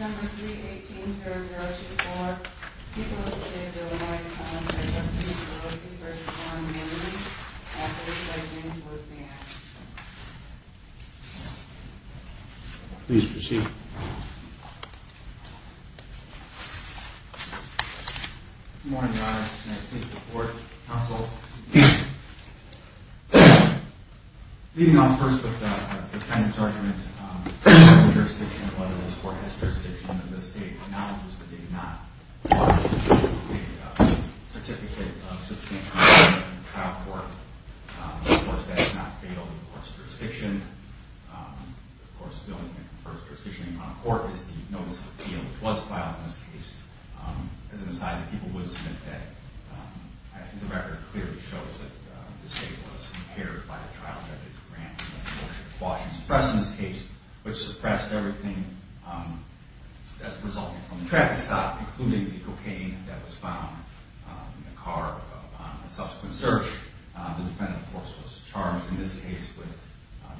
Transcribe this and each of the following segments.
number three please. Please proceed. Good morning, Your Honor, just an anticipated report from the Counsel, leading off first with the defendant's argument, whether this court has jurisdiction in the state, acknowledges that they did not file a certificate of substantial involvement in the trial court, of course that is not fatal to the court's jurisdiction, of course the only thing that confers jurisdiction on a court is the notice of appeal, which was filed in this case. As an aside, the people would submit that, I think the record clearly shows that the in this case, which suppressed everything that resulted from the traffic stop, including the cocaine that was found in the car upon subsequent search. The defendant, of course, was charged in this case with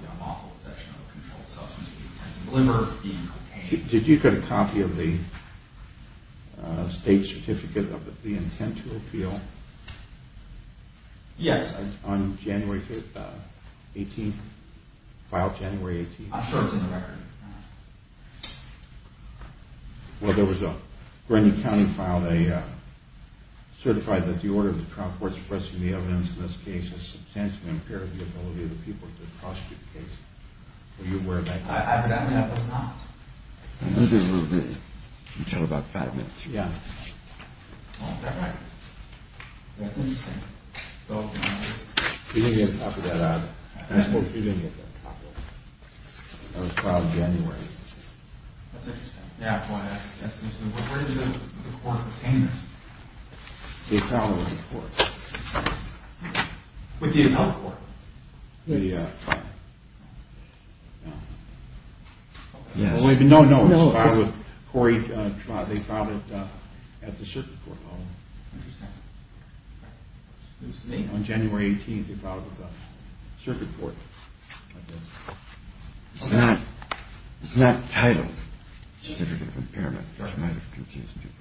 the unlawful possession of a controlled substance of the intent to deliver, being cocaine. Did you get a copy of the state certificate of the intent to appeal? Yes. On January 18th, filed January 18th? I'm sure it's in the record. Well, there was a Grinney County file that certified that the order of the trial court suppressing the evidence in this case has substantially impaired the ability of the people to prosecute the case. Were you aware of that? Evidently, I was not. We'll give it a little bit, until about five minutes. That's interesting. She didn't get a copy of that either. I suppose she didn't get that copy. That was filed in January. That's interesting. Where did the court obtain this? They filed it with the court. With the appellate court? Yes. No, no. They filed it at the circuit court. On January 18th, they filed it with the circuit court. It's not titled Certificate of Impairment, which might have confused people.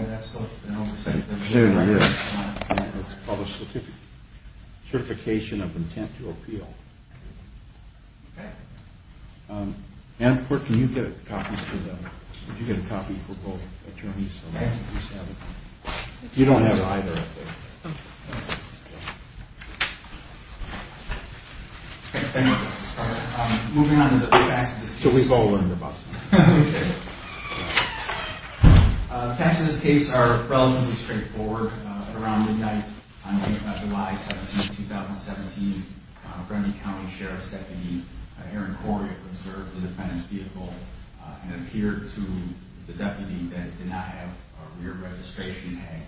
It's called a Certification of Intent to Appeal. Okay. Ann, can you get a copy for both attorneys? You don't have it either. Thank you, Justice Carter. Moving on to the facts of this case. The facts of this case are relatively straightforward. At around midnight on July 17th, 2017, Bremby County Sheriff's Deputy Aaron Correa observed the defendant's vehicle and appeared to the deputy that did not have a rear registration tag.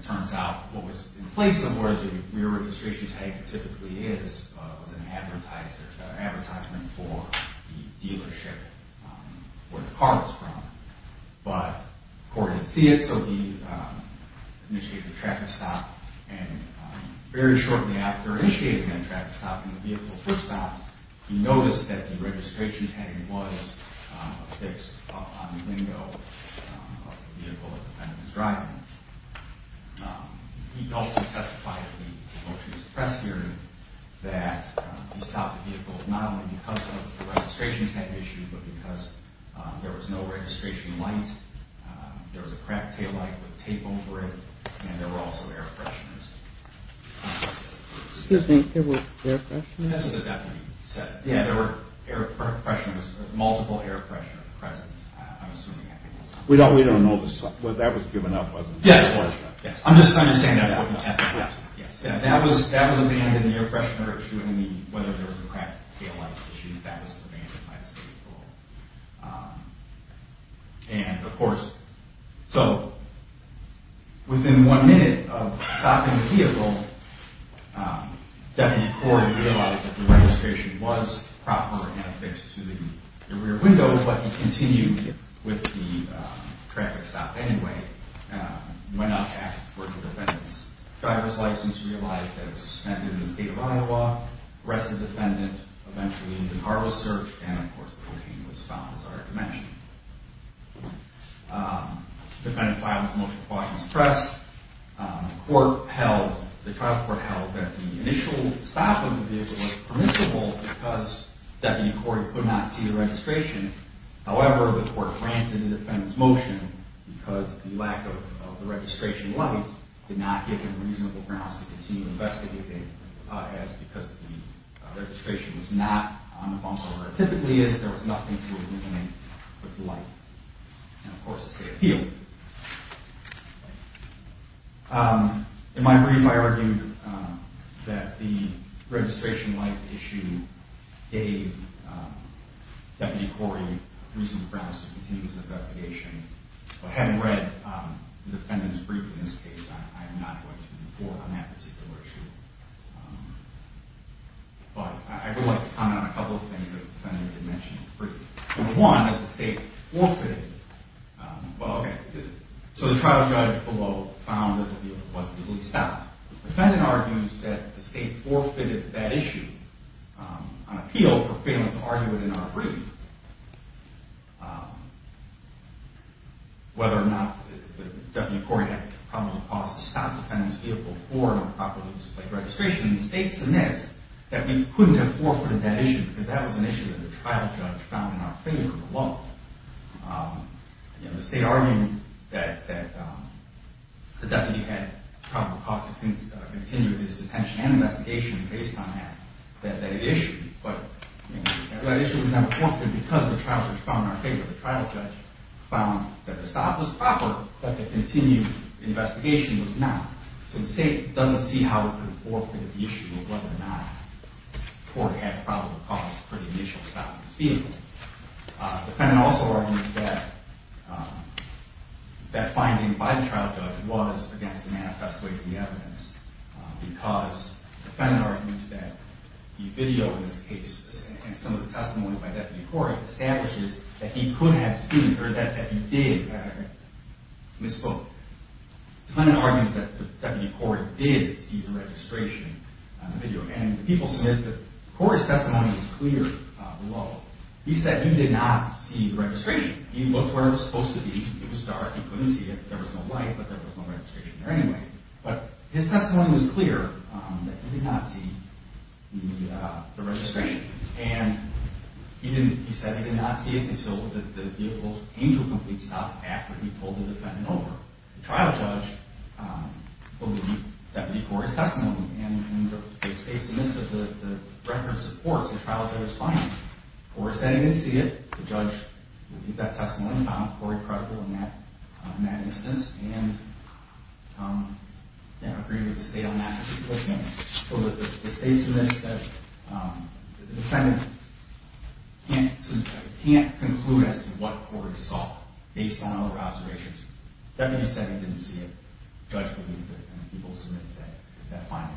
It turns out what was in place of where the rear registration tag typically is was an advertisement for the dealership where the car was from. But the court didn't see it, so he initiated a tracking stop, and very shortly after initiating that tracking stop, the vehicle was stopped. He noticed that the registration tag was affixed up on the window of the vehicle the defendant was driving. He also testified at the motion to suppress hearing that he stopped the vehicle not only because of the registration tag issue, but because there was no registration light, there was a cracked taillight with tape over it, and there were also air fresheners. Excuse me, there were air fresheners? That's what the deputy said. Yeah, there were air fresheners, multiple air fresheners present, I'm assuming. We don't know. That was given up, wasn't it? Yes. I'm just trying to say that. That was abandoned. The air freshener issue and whether there was a cracked taillight issue, that was abandoned by the city court. And, of course, so within one minute of stopping the vehicle, Deputy Corey realized that the registration was proper and affixed to the rear window, but he continued with the traffic stop anyway, went on to ask for the defendant's driver's license, realized that it was suspended in the state of Iowa, arrested the defendant, eventually the car was searched, and, of course, the machine was found as I already mentioned. The defendant filed his motion to suppress. The trial court held that the initial stop of the vehicle was permissible because Deputy Corey could not see the registration. However, the court granted the defendant's motion because the lack of the registration light did not give him reasonable grounds to continue investigating as because the registration was not on the bumper where it typically is, there was nothing to eliminate with the light. And, of course, the state appealed. In my brief, I argued that the registration light issue gave Deputy Corey reasonable grounds to continue his investigation. But having read the defendant's brief in this case, I am not going to report on that particular issue. But I would like to comment on a couple of things that the defendant did mention in the brief. Number one, that the state forfeited. Well, okay. So the trial judge below found that the vehicle was legally stopped. The defendant argues that the state forfeited that issue on appeal for failing to argue it in our brief. Whether or not Deputy Corey had probable cause to stop the defendant's vehicle for improperly displaying registration, the state admits that we couldn't have forfeited that issue because that was an issue that the trial judge found in our favor alone. The state argued that the deputy had probable cause to continue his detention and investigation based on that issue. But that issue was not forfeited because the trial judge found in our favor. The trial judge found that the stop was proper, but the continued investigation was not. So the state doesn't see how it could have forfeited the issue of whether or not Corey had probable cause for the initial stop of his vehicle. The defendant also argues that that finding by the trial judge was against the manifesto of the evidence because the defendant argues that the video in this case and some of the testimony by Deputy Corey establishes that he could have seen or that he did misspoke. The defendant argues that Deputy Corey did see the registration on the video. And the people submit that Corey's testimony was clear below. He said he did not see the registration. He looked where it was supposed to be. It was dark. He couldn't see it. There was no light, but there was no registration there anyway. But his testimony was clear that he did not see the registration. And he said he did not see it until the vehicle's angel complete stop after he told the defendant over. The trial judge believed Deputy Corey's testimony. And the state submits that the record supports the trial judge's finding. Corey said he didn't see it. The judge believed that testimony and found Corey credible in that instance and agreed with the state on that. The state submits that the defendant can't conclude as to what Corey saw based on other observations. Deputy said he didn't see it. The judge believed it. And the people submitted that finding.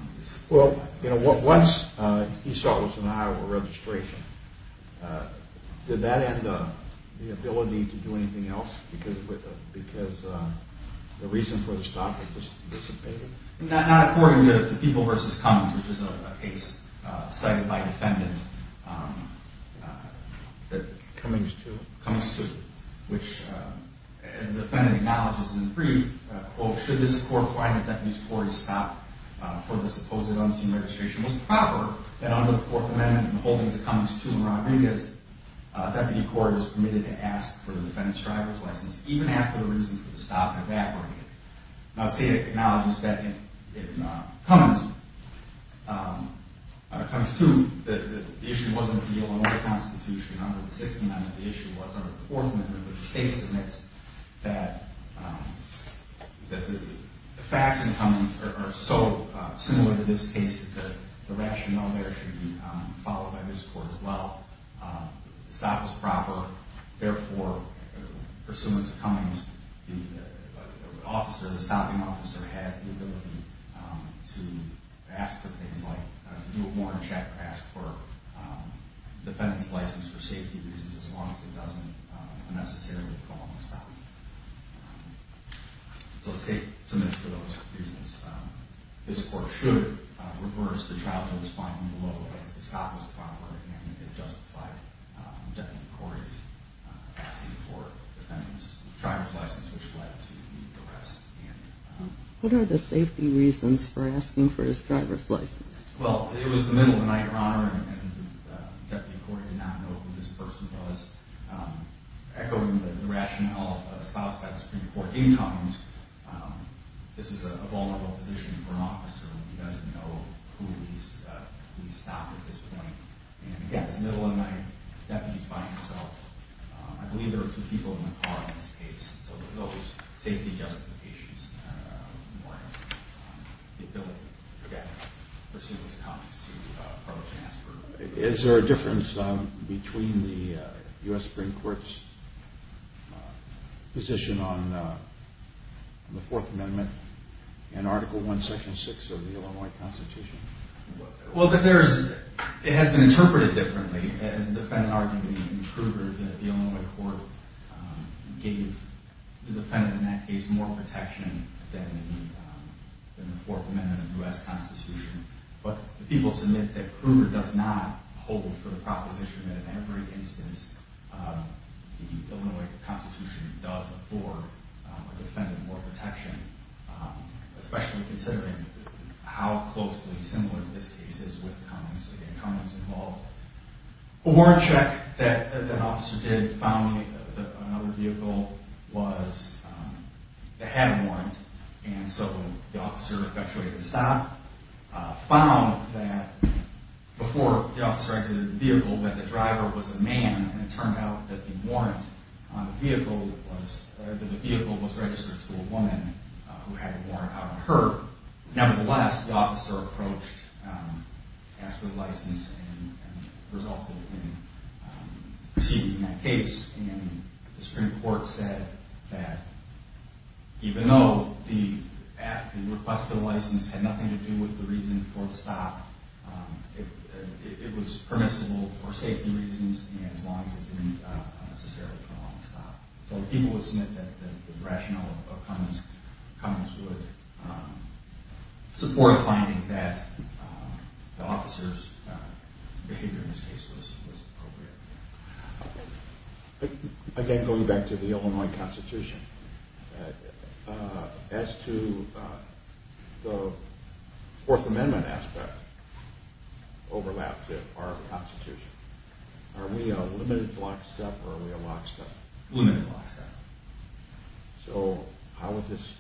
Well, once he saw it was an eye over registration, did that end the ability to do anything else because the reason for the stop had dissipated? Not according to People v. Cummings, which is a case cited by the defendant. Cummings 2? Cummings 2, which the defendant acknowledges in brief, quote, should this court find that Deputy Corey's stop for the supposed unseen registration was proper, that under the Fourth Amendment and the holdings of Cummings 2 and Rodriguez, Deputy Corey was permitted to ask for the defendant's driver's license even after the reason for the stop had evaporated. Now, the state acknowledges that in Cummings 2, the issue wasn't the Illinois Constitution under the Sixty-Nine, the issue was under the Fourth Amendment, but the state submits that the facts in Cummings are so similar to this case that the rationale there should be followed by this court as well. The stop was proper. Therefore, pursuant to Cummings, the officer, the stopping officer, has the ability to ask for things like, to do a warrant check, ask for the defendant's license for safety reasons as long as it doesn't unnecessarily prolong the stop. So the state submits to those reasons. This court should reverse the trial that was filed in the local case. The stop was proper and it justified Deputy Corey's asking for the defendant's driver's license, which led to the arrest. What are the safety reasons for asking for his driver's license? Well, it was the middle of the night, Your Honor, and Deputy Corey did not know who this person was. Echoing the rationale espoused by the Supreme Court in Cummings, this is a vulnerable position for an officer. He doesn't know who he's stopped at this point. And again, it's the middle of the night. The deputy's by himself. I believe there are two people in the car in this case. So those safety justifications warrant the ability for the defendant, pursuant to Cummings, to file a transfer. Is there a difference between the U.S. Supreme Court's position on the Fourth Amendment and Article I, Section 6 of the Illinois Constitution? Well, it has been interpreted differently, as the defendant arguing in Kruger that the Illinois court gave the defendant, in that case, more protection than the Fourth Amendment of the U.S. Constitution. But the people submit that Kruger does not hold for the proposition that in every instance the Illinois Constitution does afford a defendant more protection, especially considering how closely similar this case is with Cummings, and Cummings involved. A warrant check that an officer did found in another vehicle was they had a warrant, and so the officer eventually had to stop, found that before the officer exited the vehicle that the driver was a man, and it turned out that the warrant on the vehicle was registered to a woman who had a warrant on her. Nevertheless, the officer approached, asked for the license, and resulted in proceeding in that case. And the Supreme Court said that even though the request for the license had nothing to do with the reason for the stop, it was permissible for safety reasons and as long as it didn't necessarily prolong the stop. So the people would submit that the rationale of Cummings would support the finding that the officer's behavior in this case was appropriate. Again, going back to the Illinois Constitution, as to the Fourth Amendment aspect overlapped to our Constitution, are we a limited block step or are we a lock step? Limited block step. So how would this,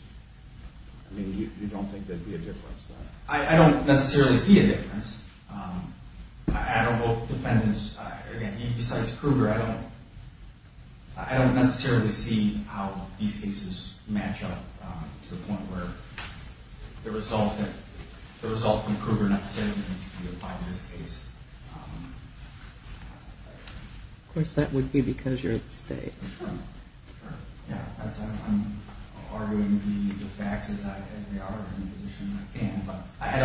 I mean, you don't think there'd be a difference? I don't necessarily see a difference. I don't know if defendants, again, besides Kruger, I don't necessarily see how these cases match up to the point where the result from Kruger necessarily needs to be applied in this case. Of course, that would be because you're at the state. Yeah, I'm arguing the facts as they are in the position that I'm in, but I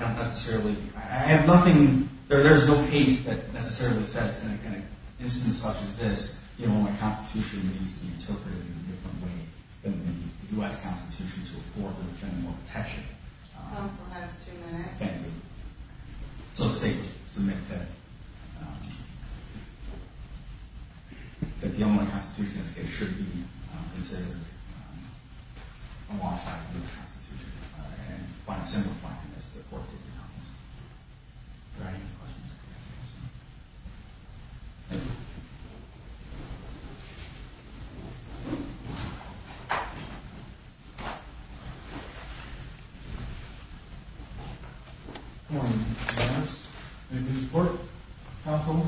don't necessarily, I have nothing, there's no case that necessarily says in an instance such as this, the Illinois Constitution needs to be interpreted in a different way than the U.S. Constitution to afford the general protection. Counsel has two minutes. So the state submits that the Illinois Constitution, it should be considered alongside the U.S. Constitution and by simplifying this, the court can do that. Are there any other questions? Thank you. Good morning. Thank you for your support, counsel.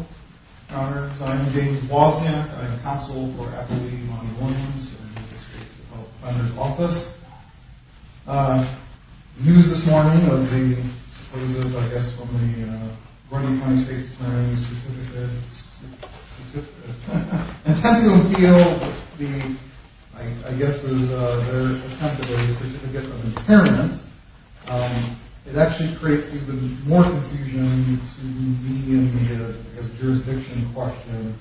I'm James Wozniak. I'm counsel for Appalachian-Illinoisians in the state defender's office. News this morning of the supposedly, I guess, from the Vernon County State's Attorney's Certificate, and it tends to appeal the, I guess, there's a very extensive certificate of independence. It actually creates even more confusion to me in the, I guess, jurisdiction question.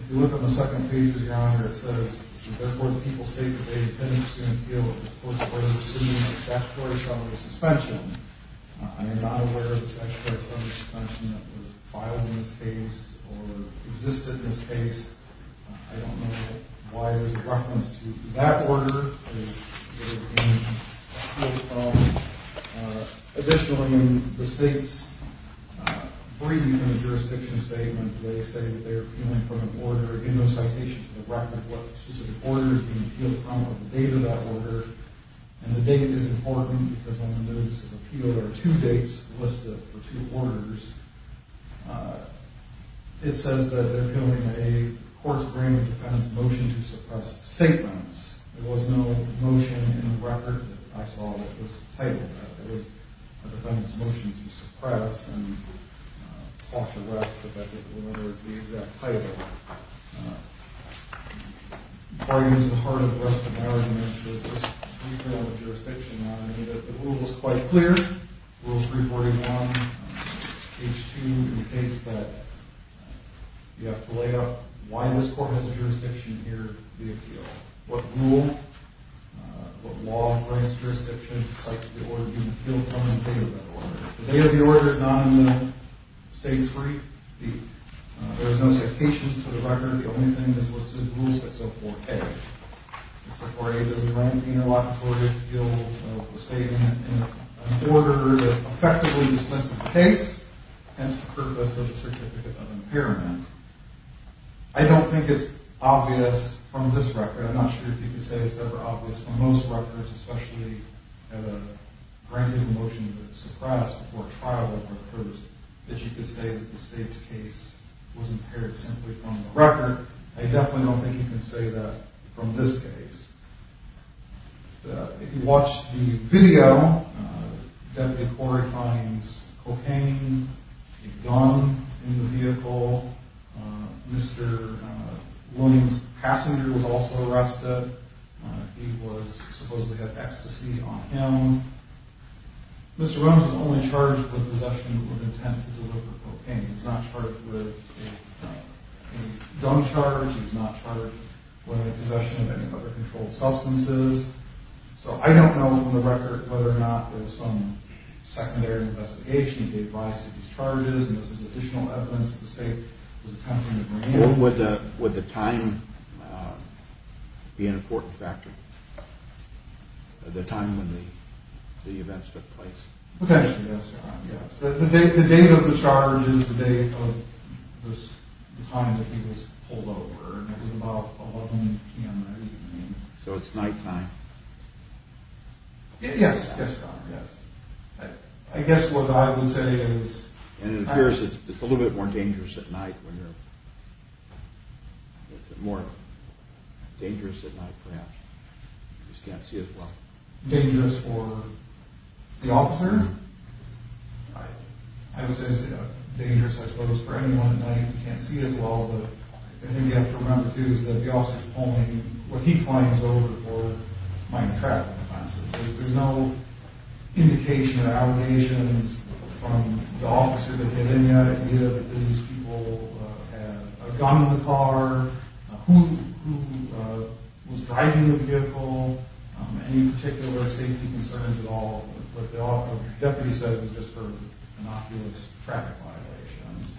If you look on the second page of the honor, it says, therefore, the people state that they tend to appeal it. This court is assuming a statutory sum of suspension. I am not aware of a statutory sum of suspension that was filed in this case or existed in this case. I don't know why there's a reference to that order. Additionally, the state's brief in the jurisdiction statement, they say that they're appealing from an order, and no citation from the record of what specific order is being appealed from or the date of that order. And the date is important because on the notice of appeal, there are two dates listed for two orders. It says that they're appealing a court's grand independent motion to suppress statements. There was no motion in the record that I saw that was titled that. It was a defendant's motion to suppress and cause arrest, but that didn't matter. It was the exact title. In far use of the heart of the rest of my argument, there's just too little jurisdiction on it. The rule was quite clear, Rule 341, H2, in the case that you have to lay out why this court has a jurisdiction here to appeal. What rule, what law and grant jurisdiction cites the order being appealed from and the date of that order. The date of the order is not in the state's brief. There's no citations to the record. The only thing that's listed is Rule 604A. 604A does grant interlocutory appeal of the state in an order that effectively dismisses the case, hence the purpose of a certificate of impairment. I don't think it's obvious from this record. I'm not sure if you can say it's ever obvious from most records, especially at a grand independent motion to suppress before trial, that you could say that the state's case was impaired simply from the record. I definitely don't think you can say that from this case. If you watch the video, Deputy Corey finds cocaine, a gun in the vehicle. Mr. Williams' passenger was also arrested. He was supposed to have ecstasy on him. Mr. Williams was only charged with possession with intent to deliver cocaine. He was not charged with a gun charge. He was not charged with possession of any other controlled substances. So I don't know from the record whether or not there was some secondary investigation that gave rise to these charges. This is additional evidence that the state was attempting to bring in. When would the time be an important factor? The time when the events took place? Potentially, yes. The date of the charge is the date of the time that he was pulled over. It was about 11 p.m. that evening. So it's night time. Yes, yes. I guess what I would say is... It appears it's a little bit more dangerous at night. It's more dangerous at night perhaps. You just can't see as well. It's dangerous for the officer. I would say it's dangerous, I suppose, for anyone at night. You can't see as well. The thing you have to remember, too, is that the officer is pulling what he finds over for minor traffic offenses. There's no indication or allegations from the officer that had any idea that these people had a gun in the car, who was driving the vehicle, any particular safety concerns at all. What the deputy says is just for innocuous traffic violations.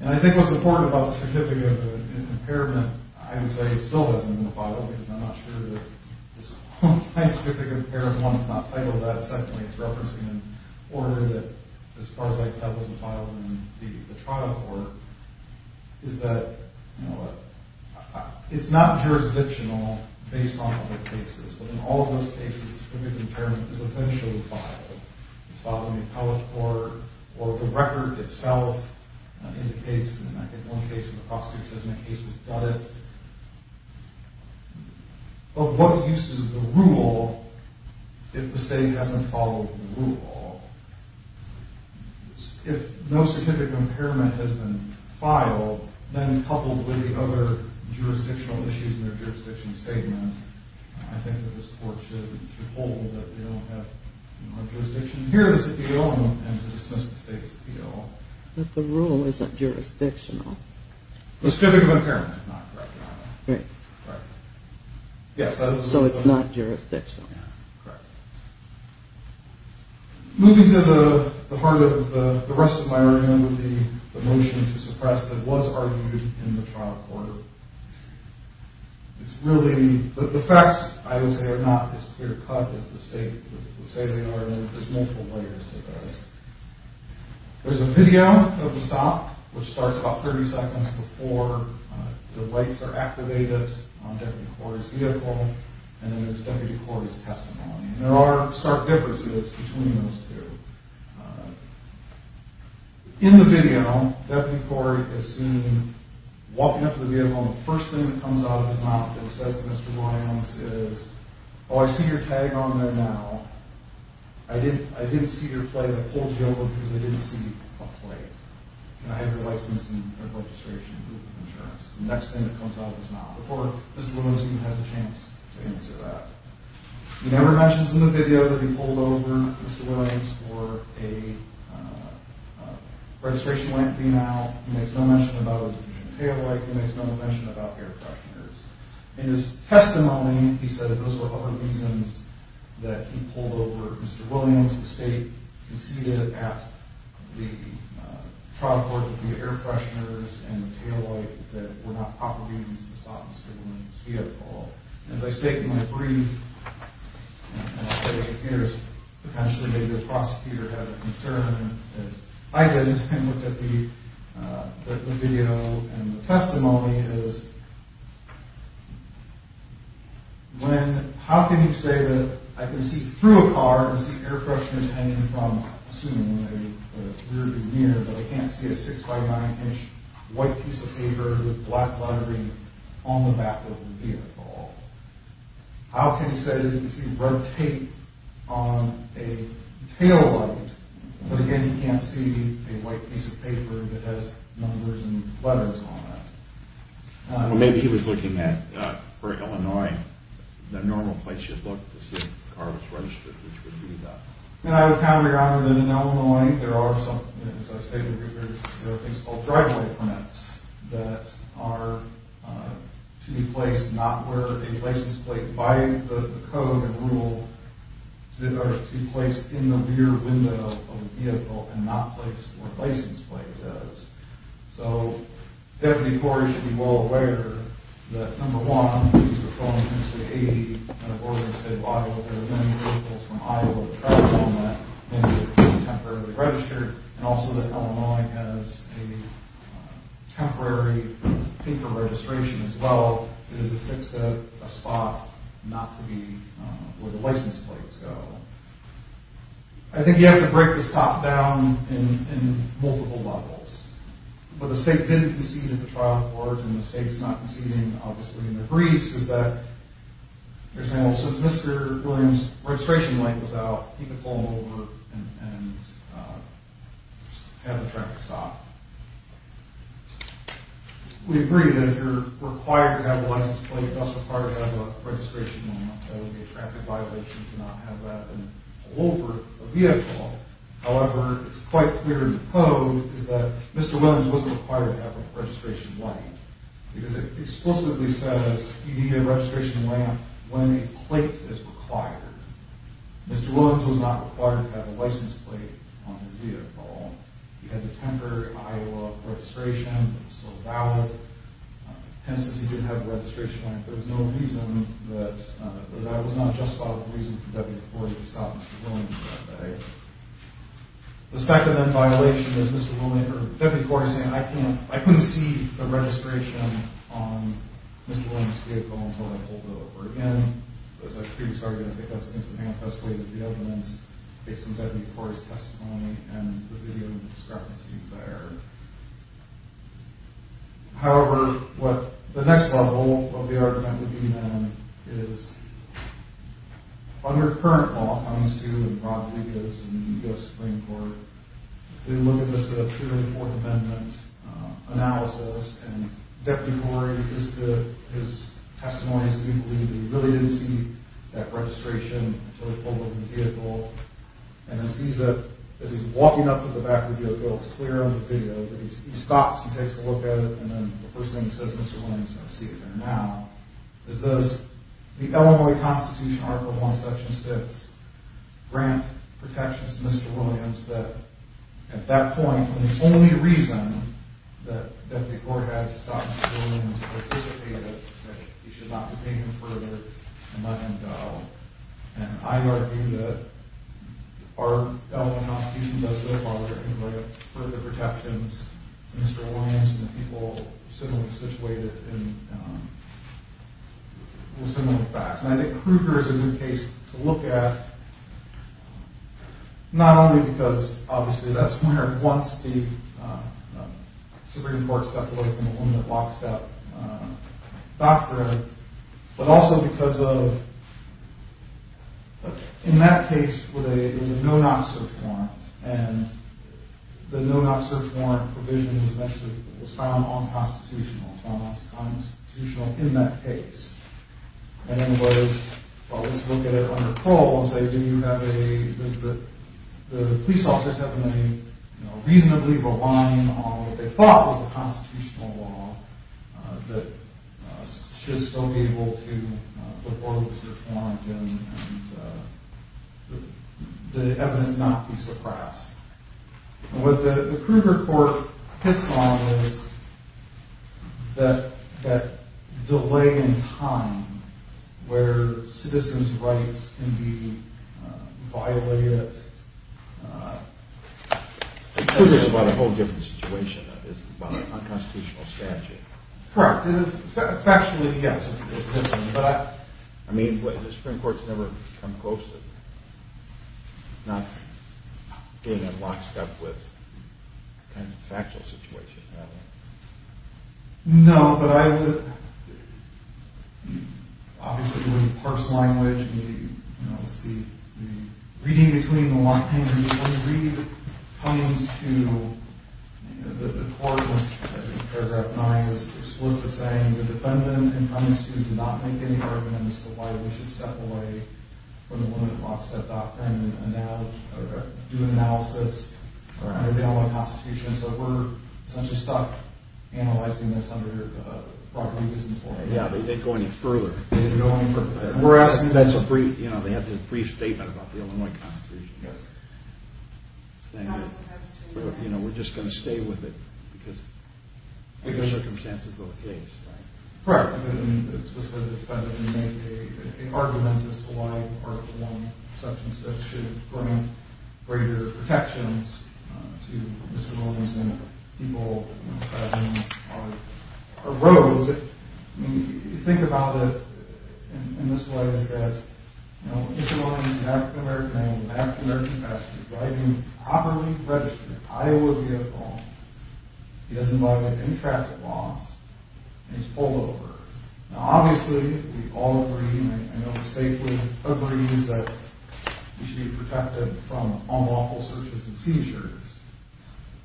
And I think what's important about the certificate of impairment, I would say it still hasn't been filed, because I'm not sure that this whole nice certificate of impairment, one, it's not titled that. Secondly, it's referencing an order that, as far as I can tell, wasn't filed in the trial court. It's not jurisdictional based on other cases, but in all of those cases, certificate of impairment is eventually filed. It's filed in the appellate court, or the record itself indicates, and I think one case in the prosecutor's case has done it, of what uses the rule if the state hasn't followed the rule. If no certificate of impairment has been filed, then coupled with the other jurisdictional issues in their jurisdiction statements, I think that this court should hold that they don't have jurisdiction here to dismiss the state's appeal. But the rule isn't jurisdictional. The certificate of impairment is not. Right. Yes. So it's not jurisdictional. Correct. Moving to the heart of the rest of my argument, the motion to suppress that was argued in the trial court. The facts, I would say, are not as clear-cut as the state would say they are. There's multiple layers to this. There's a video of the stop, which starts about 30 seconds before the lights are activated on Deputy Corey's vehicle, and then there's Deputy Corey's testimony. And there are stark differences between those two. In the video, Deputy Corey is seen walking up to the vehicle, and the first thing that comes out of his mouth that he says to Mr. Lyons is, oh, I see your tag on there now. I didn't see your plate. I pulled you over because I didn't see a plate, and I have your license and registration and insurance. The next thing that comes out of his mouth. Before Mr. Lyons even has a chance to answer that. He never mentions in the video that he pulled over Mr. Lyons for a registration lamp being out. He makes no mention about a diffusion of taillight. He makes no mention about air fresheners. In his testimony, he says those were other reasons that he pulled over Mr. Lyons. The state conceded at the trial court that the air fresheners and the As I state in my brief, potentially the prosecutor has a concern. I looked at the video, and the testimony is, when, how can you say that I can see through a car and see air fresheners hanging from, on the back of the vehicle? How can you say that you can see red tape on a taillight, but again, you can't see a white piece of paper that has numbers and letters on it? Maybe he was looking at, for Illinois, the normal place you'd look to see if the car was registered, which would be the. And I would counter your honor that in Illinois, there are some, as I stated in my brief, there are things called driveway permits that are to be placed, not where a license plate, by the code and rule that are to be placed in the rear window of the vehicle and not placed where a license plate does. So, Deputy Corey should be well aware that number one, he's been calling since the 80s, kind of ordering instead of Iowa, there have been vehicles from Iowa, temporarily registered. And also that Illinois has a temporary paper registration as well. It is a fixed spot, not to be where the license plates go. I think you have to break this top down in, in multiple levels, but the state didn't concede at the trial court and the state is not conceding. Obviously in the briefs is that you're saying, well, since Mr. Williams registration link was out, he could pull over and have a traffic stop. We agree that you're required to have a license plate, thus required to have a registration. That would be a traffic violation to not have that over a vehicle. However, it's quite clear in the code is that Mr. Williams wasn't required to have a registration blank because it is required. Mr. Williams was not required to have a license plate on his vehicle. He had the temporary Iowa registration. So valid. And since he didn't have a registration, there was no reason that that was not justified. The reason for that was to stop Mr. Williams that day. The second that violation is Mr. William, or that before saying, I can't, I couldn't see the registration on Mr. Williams vehicle until I pulled over again. As a previous argument, I think that's the best way that the evidence based on that, before his testimony and the video discrepancies there. However, what the next level of the argument would be, then is under current law, how he's doing, probably goes in the U S Supreme court. They look at this, the period, the fourth amendment analysis, and Deputy Corey is to his testimonies. Do you believe that he really didn't see that registration? And then sees that as he's walking up to the back of the vehicle, it's clear on the video that he stops, he takes a look at it. And then the first thing he says, Mr. Williams, I see it now is those, the Illinois constitution, article one, section six, grant protections to Mr. Williams that at that point, when the only reason that the court had to stop, he should not be taken further. And, and, and I argue that our, Illinois constitution does go farther and further protections. Mr. Williams and the people similarly situated in, well, similar facts. And I think Kruger is a good case to look at. Not only because obviously that's where once the Supreme court locks up doctor, but also because of, in that case where they, no, not search warrant and the no, not search warrant provision was found on constitutional constitutional in that case. And then it was, well, let's look at it on the pole and say, do you have a, is the, the police officers having a reasonably relying on what they thought was constitutional law that should still be able to, uh, the evidence not be suppressed. And what the Kruger court hits on is that, that delay in time where citizens rights can be violated. Uh, this is about a whole different situation. It's about a constitutional statute. Correct. Factually. Yes. But I, I mean, the Supreme court's never come close to not getting in lockstep with factual situation. No, but I would, obviously we parse language and we, you know, it's the reading between the lines. It's the only reading that comes to the court. As in paragraph nine is explicit saying the defendant in front of the student, did not make any argument as to why we should step away from the woman lockset. And now do analysis. All right. They all want constitution. So we're essentially stuck analyzing this under a property. Yeah. They didn't go any further. We're asking that's a brief, you know, they have this brief statement about the Illinois constitution. Yes. Thank you. You know, we're just going to stay with it because, because the circumstances of the case. Right. Correct. I mean, it's just whether the defendant made a, a argument as to why part of the long section six should bring greater protections to disabilities and people. I mean, you think about it in this way is that, you know, this is an African American man, an African American pastor driving a properly registered Iowa vehicle. He doesn't buy any traffic laws. And he's pulled over. Now, obviously we all agree. I know the state would agree that you should be protected from unlawful searches and seizures.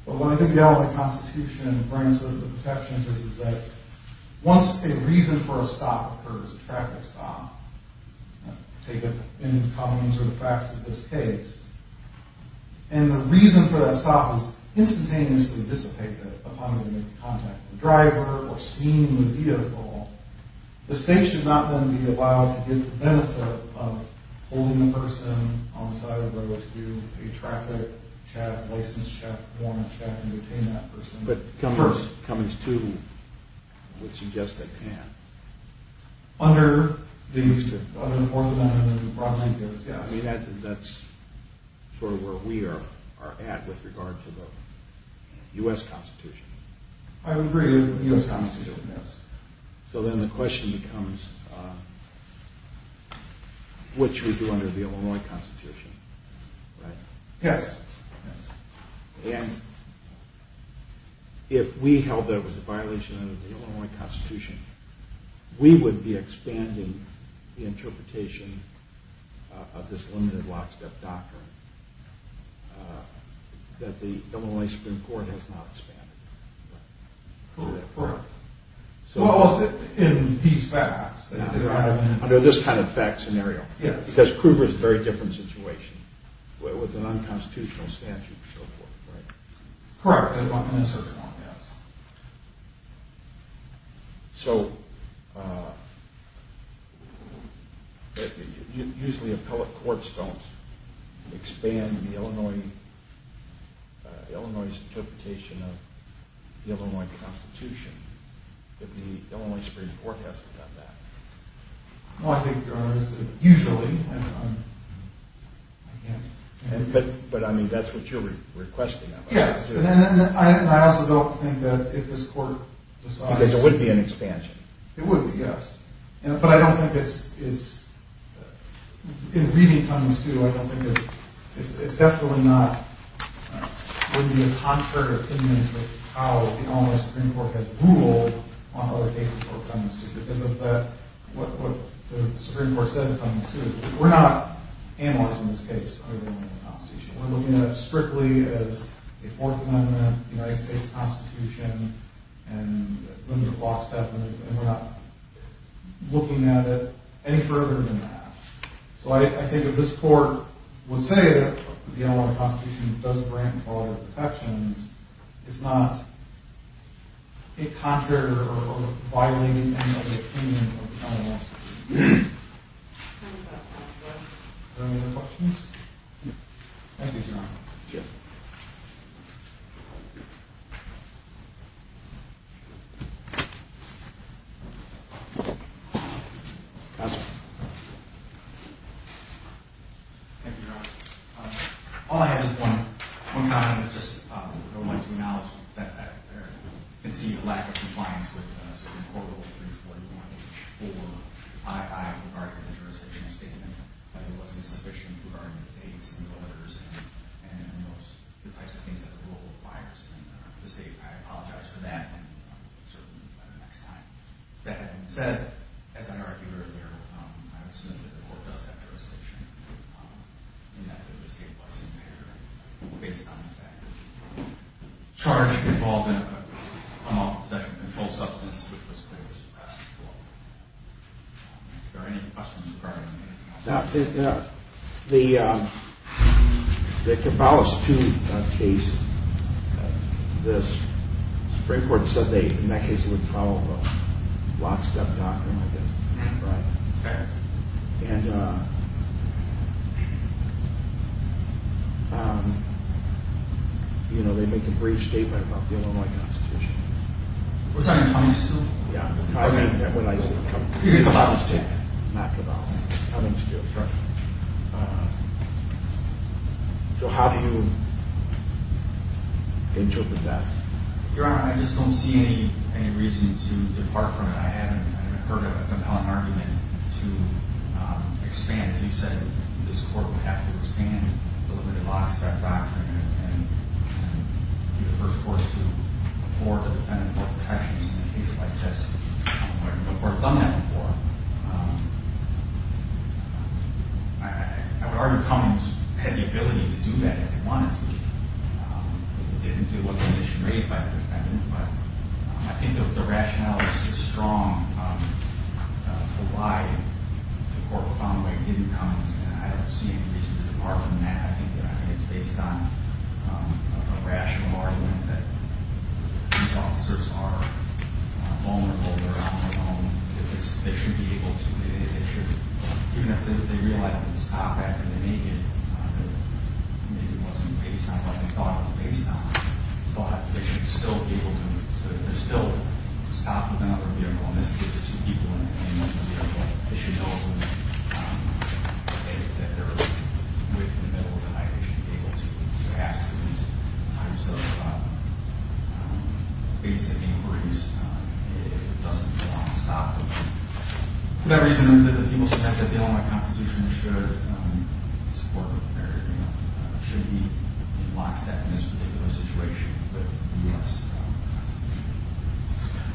But when I think about all the constitution grants of the protections, this is that once a reason for a stop occurs, a traffic stop, take it in the comments or the facts of this case. And the reason for that stop is instantaneously dissipated upon contact, the driver or seeing the vehicle, the state should not then be allowed to get the benefit of holding the person on the side of the road to do a traffic check. And you obtain that person. But Cummings, Cummings too, would suggest they can. Under these two. Under the fourth amendment. Yes. I mean, that's sort of where we are, are at with regard to the U S constitution. I would agree with the U S constitution. Yes. So then the question becomes, which we do under the Illinois constitution, right? Yes. And if we held that it was a violation of the Illinois constitution, we would be expanding the interpretation of this limited lockstep doctrine that the Illinois Supreme Court has not expanded. Correct. Correct. Well, in these facts. Under this kind of fact scenario. Yes. Because Kruger is a very different situation with an unconstitutional statute. So usually appellate courts don't expand the Illinois, Illinois interpretation of the Illinois constitution. If the Illinois Supreme Court hasn't done that. Usually. But I mean, that's what you're requesting. Yes. And I also don't think that if this court decides. Because it would be an expansion. It would be. Yes. But I don't think it's. In reading Cummings too, I don't think it's, it's definitely not going to be a contrary opinion to how the Illinois Supreme Court has ruled on other cases for Cummings too. Because of what the Supreme Court said in Cummings too. We're not analyzing this case under the Illinois constitution. We're looking at it strictly as a Fourth Amendment United States constitution and limited lockstep. And we're not looking at it any further than that. So I think if this court would say that the Illinois constitution doesn't grant equality protections, it's not a contrary or violating end of the opinion of the Illinois Supreme Court. Are there any other questions? No. Thank you, Your Honor. Thank you. Thank you, Your Honor. All I have is one comment. I just wanted to acknowledge that I can see the lack of compliance with the Supreme Court Rule 341-4. I would argue that the jurisdiction statement wasn't sufficient regarding the dates and the orders and those types of things that the rule requires. And I apologize for that. And we'll certainly do that the next time. That being said, as I argued earlier, I would assume that the court does have jurisdiction in that the state was impaired based on the fact that the charge involved in a possession of a controlled substance which was clearly suppressed before. Are there any questions regarding that? No. The Cabalist II case, the Supreme Court said in that case it would follow a lockstep doctrine, I guess. Right. Fair. And, you know, they make a brief statement about the Illinois Constitution. What's that, in Cummings too? Yeah. You mean Cabalist II? Not Cabalist II, Cummings II. Sure. So how do you interpret that? Your Honor, I just don't see any reason to depart from it. I haven't heard of a compelling argument to expand. You said this court would have to expand the limited lockstep doctrine and be the first court to afford a defendant more protections in a case like this. The court's done that before. I would argue Cummings had the ability to do that if he wanted to. It wasn't an issue raised by the defendant. But I think the rationale is strong for why the court found the way it did in Cummings, and I don't see any reason to depart from that. I think it's based on a rational argument that these officers are vulnerable. They're on their own. They should be able to. Even if they realize they can stop after they make it, maybe it wasn't based on what they thought it was based on, but they should still be able to stop without their vehicle. In this case, two people in a vehicle. They should know that they're in the middle of the night. They should be able to ask for these types of basic inquiries. It doesn't belong to stop. For that reason, the people suspect that the Illinois Constitution should support a barrier. Should we be lockstep in this particular situation?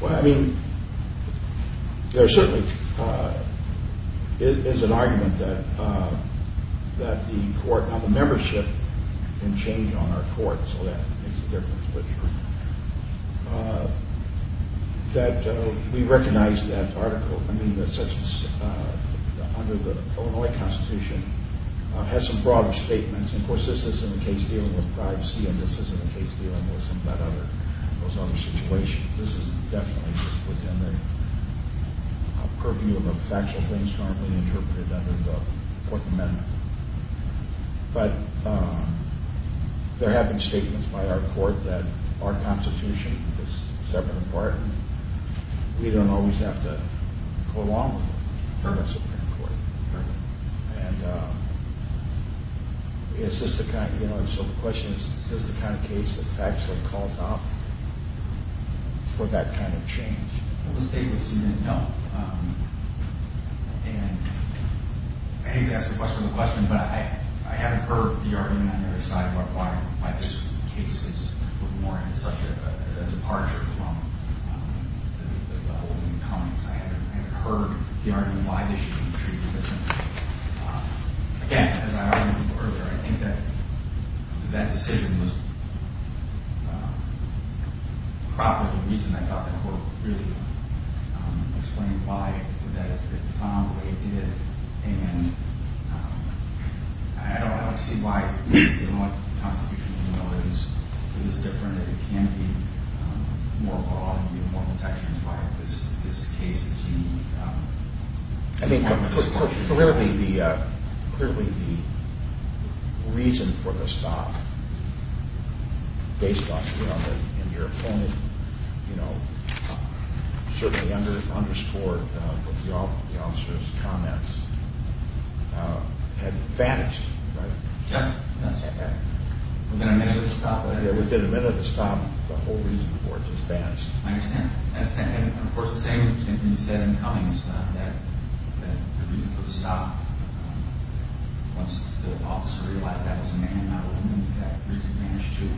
Well, I mean, there certainly is an argument that the court, now the membership can change on our court, so that makes a difference. That we recognize that article, I mean, under the Illinois Constitution has some broader statements. Of course, this isn't a case dealing with privacy, and this isn't a case dealing with some of those other situations. This is definitely just within the purview of the factual things normally interpreted under the Fourth Amendment. But there have been statements by our court that our Constitution is separate and pardoned. We don't always have to go along with the terms of the Supreme Court. So the question is, is this the kind of case that factually calls out for that kind of change? Well, the statements in it don't. And I hate to ask the question of the question, but I haven't heard the argument on the other side of why this case is more in such a departure from the holding of comings. I haven't heard the argument why this should be treated differently. Again, as I argued earlier, I think that that decision was proper. The reason I thought the court really explained why, that it found the way it did, and I don't see why the Constitution is different. It can be more law and more protections. Why is this case dealing with that? I mean, clearly the reason for the stop, based on your opponent, certainly underscored the officer's comments. He had vanished, right? Yes. Within a minute of the stop. Within a minute of the stop, the whole reason for it just vanished. I understand. And, of course, the same thing you said in Cummings, that the reason for the stop, once the officer realized that was a man, not a woman, that reason vanished too.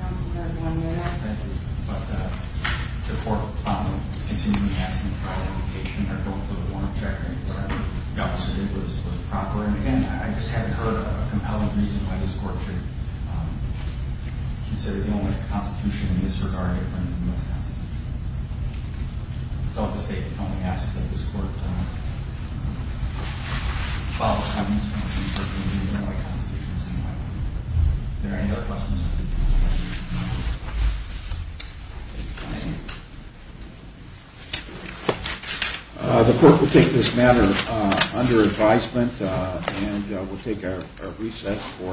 Counsel, you have one minute. Thank you. But the court continued to be asking for an indication, or going for the warrant check, or whatever the officer did was proper. And, again, I just haven't heard a compelling reason why this court should consider the only Constitution in this regard a different from the U.S. Constitution. I felt the state only asked that this court follow Cummings, and the U.S. Constitution in the same way. Are there any other questions? The court will take this matter under advisement, and we'll take our recess for a five-minute recess.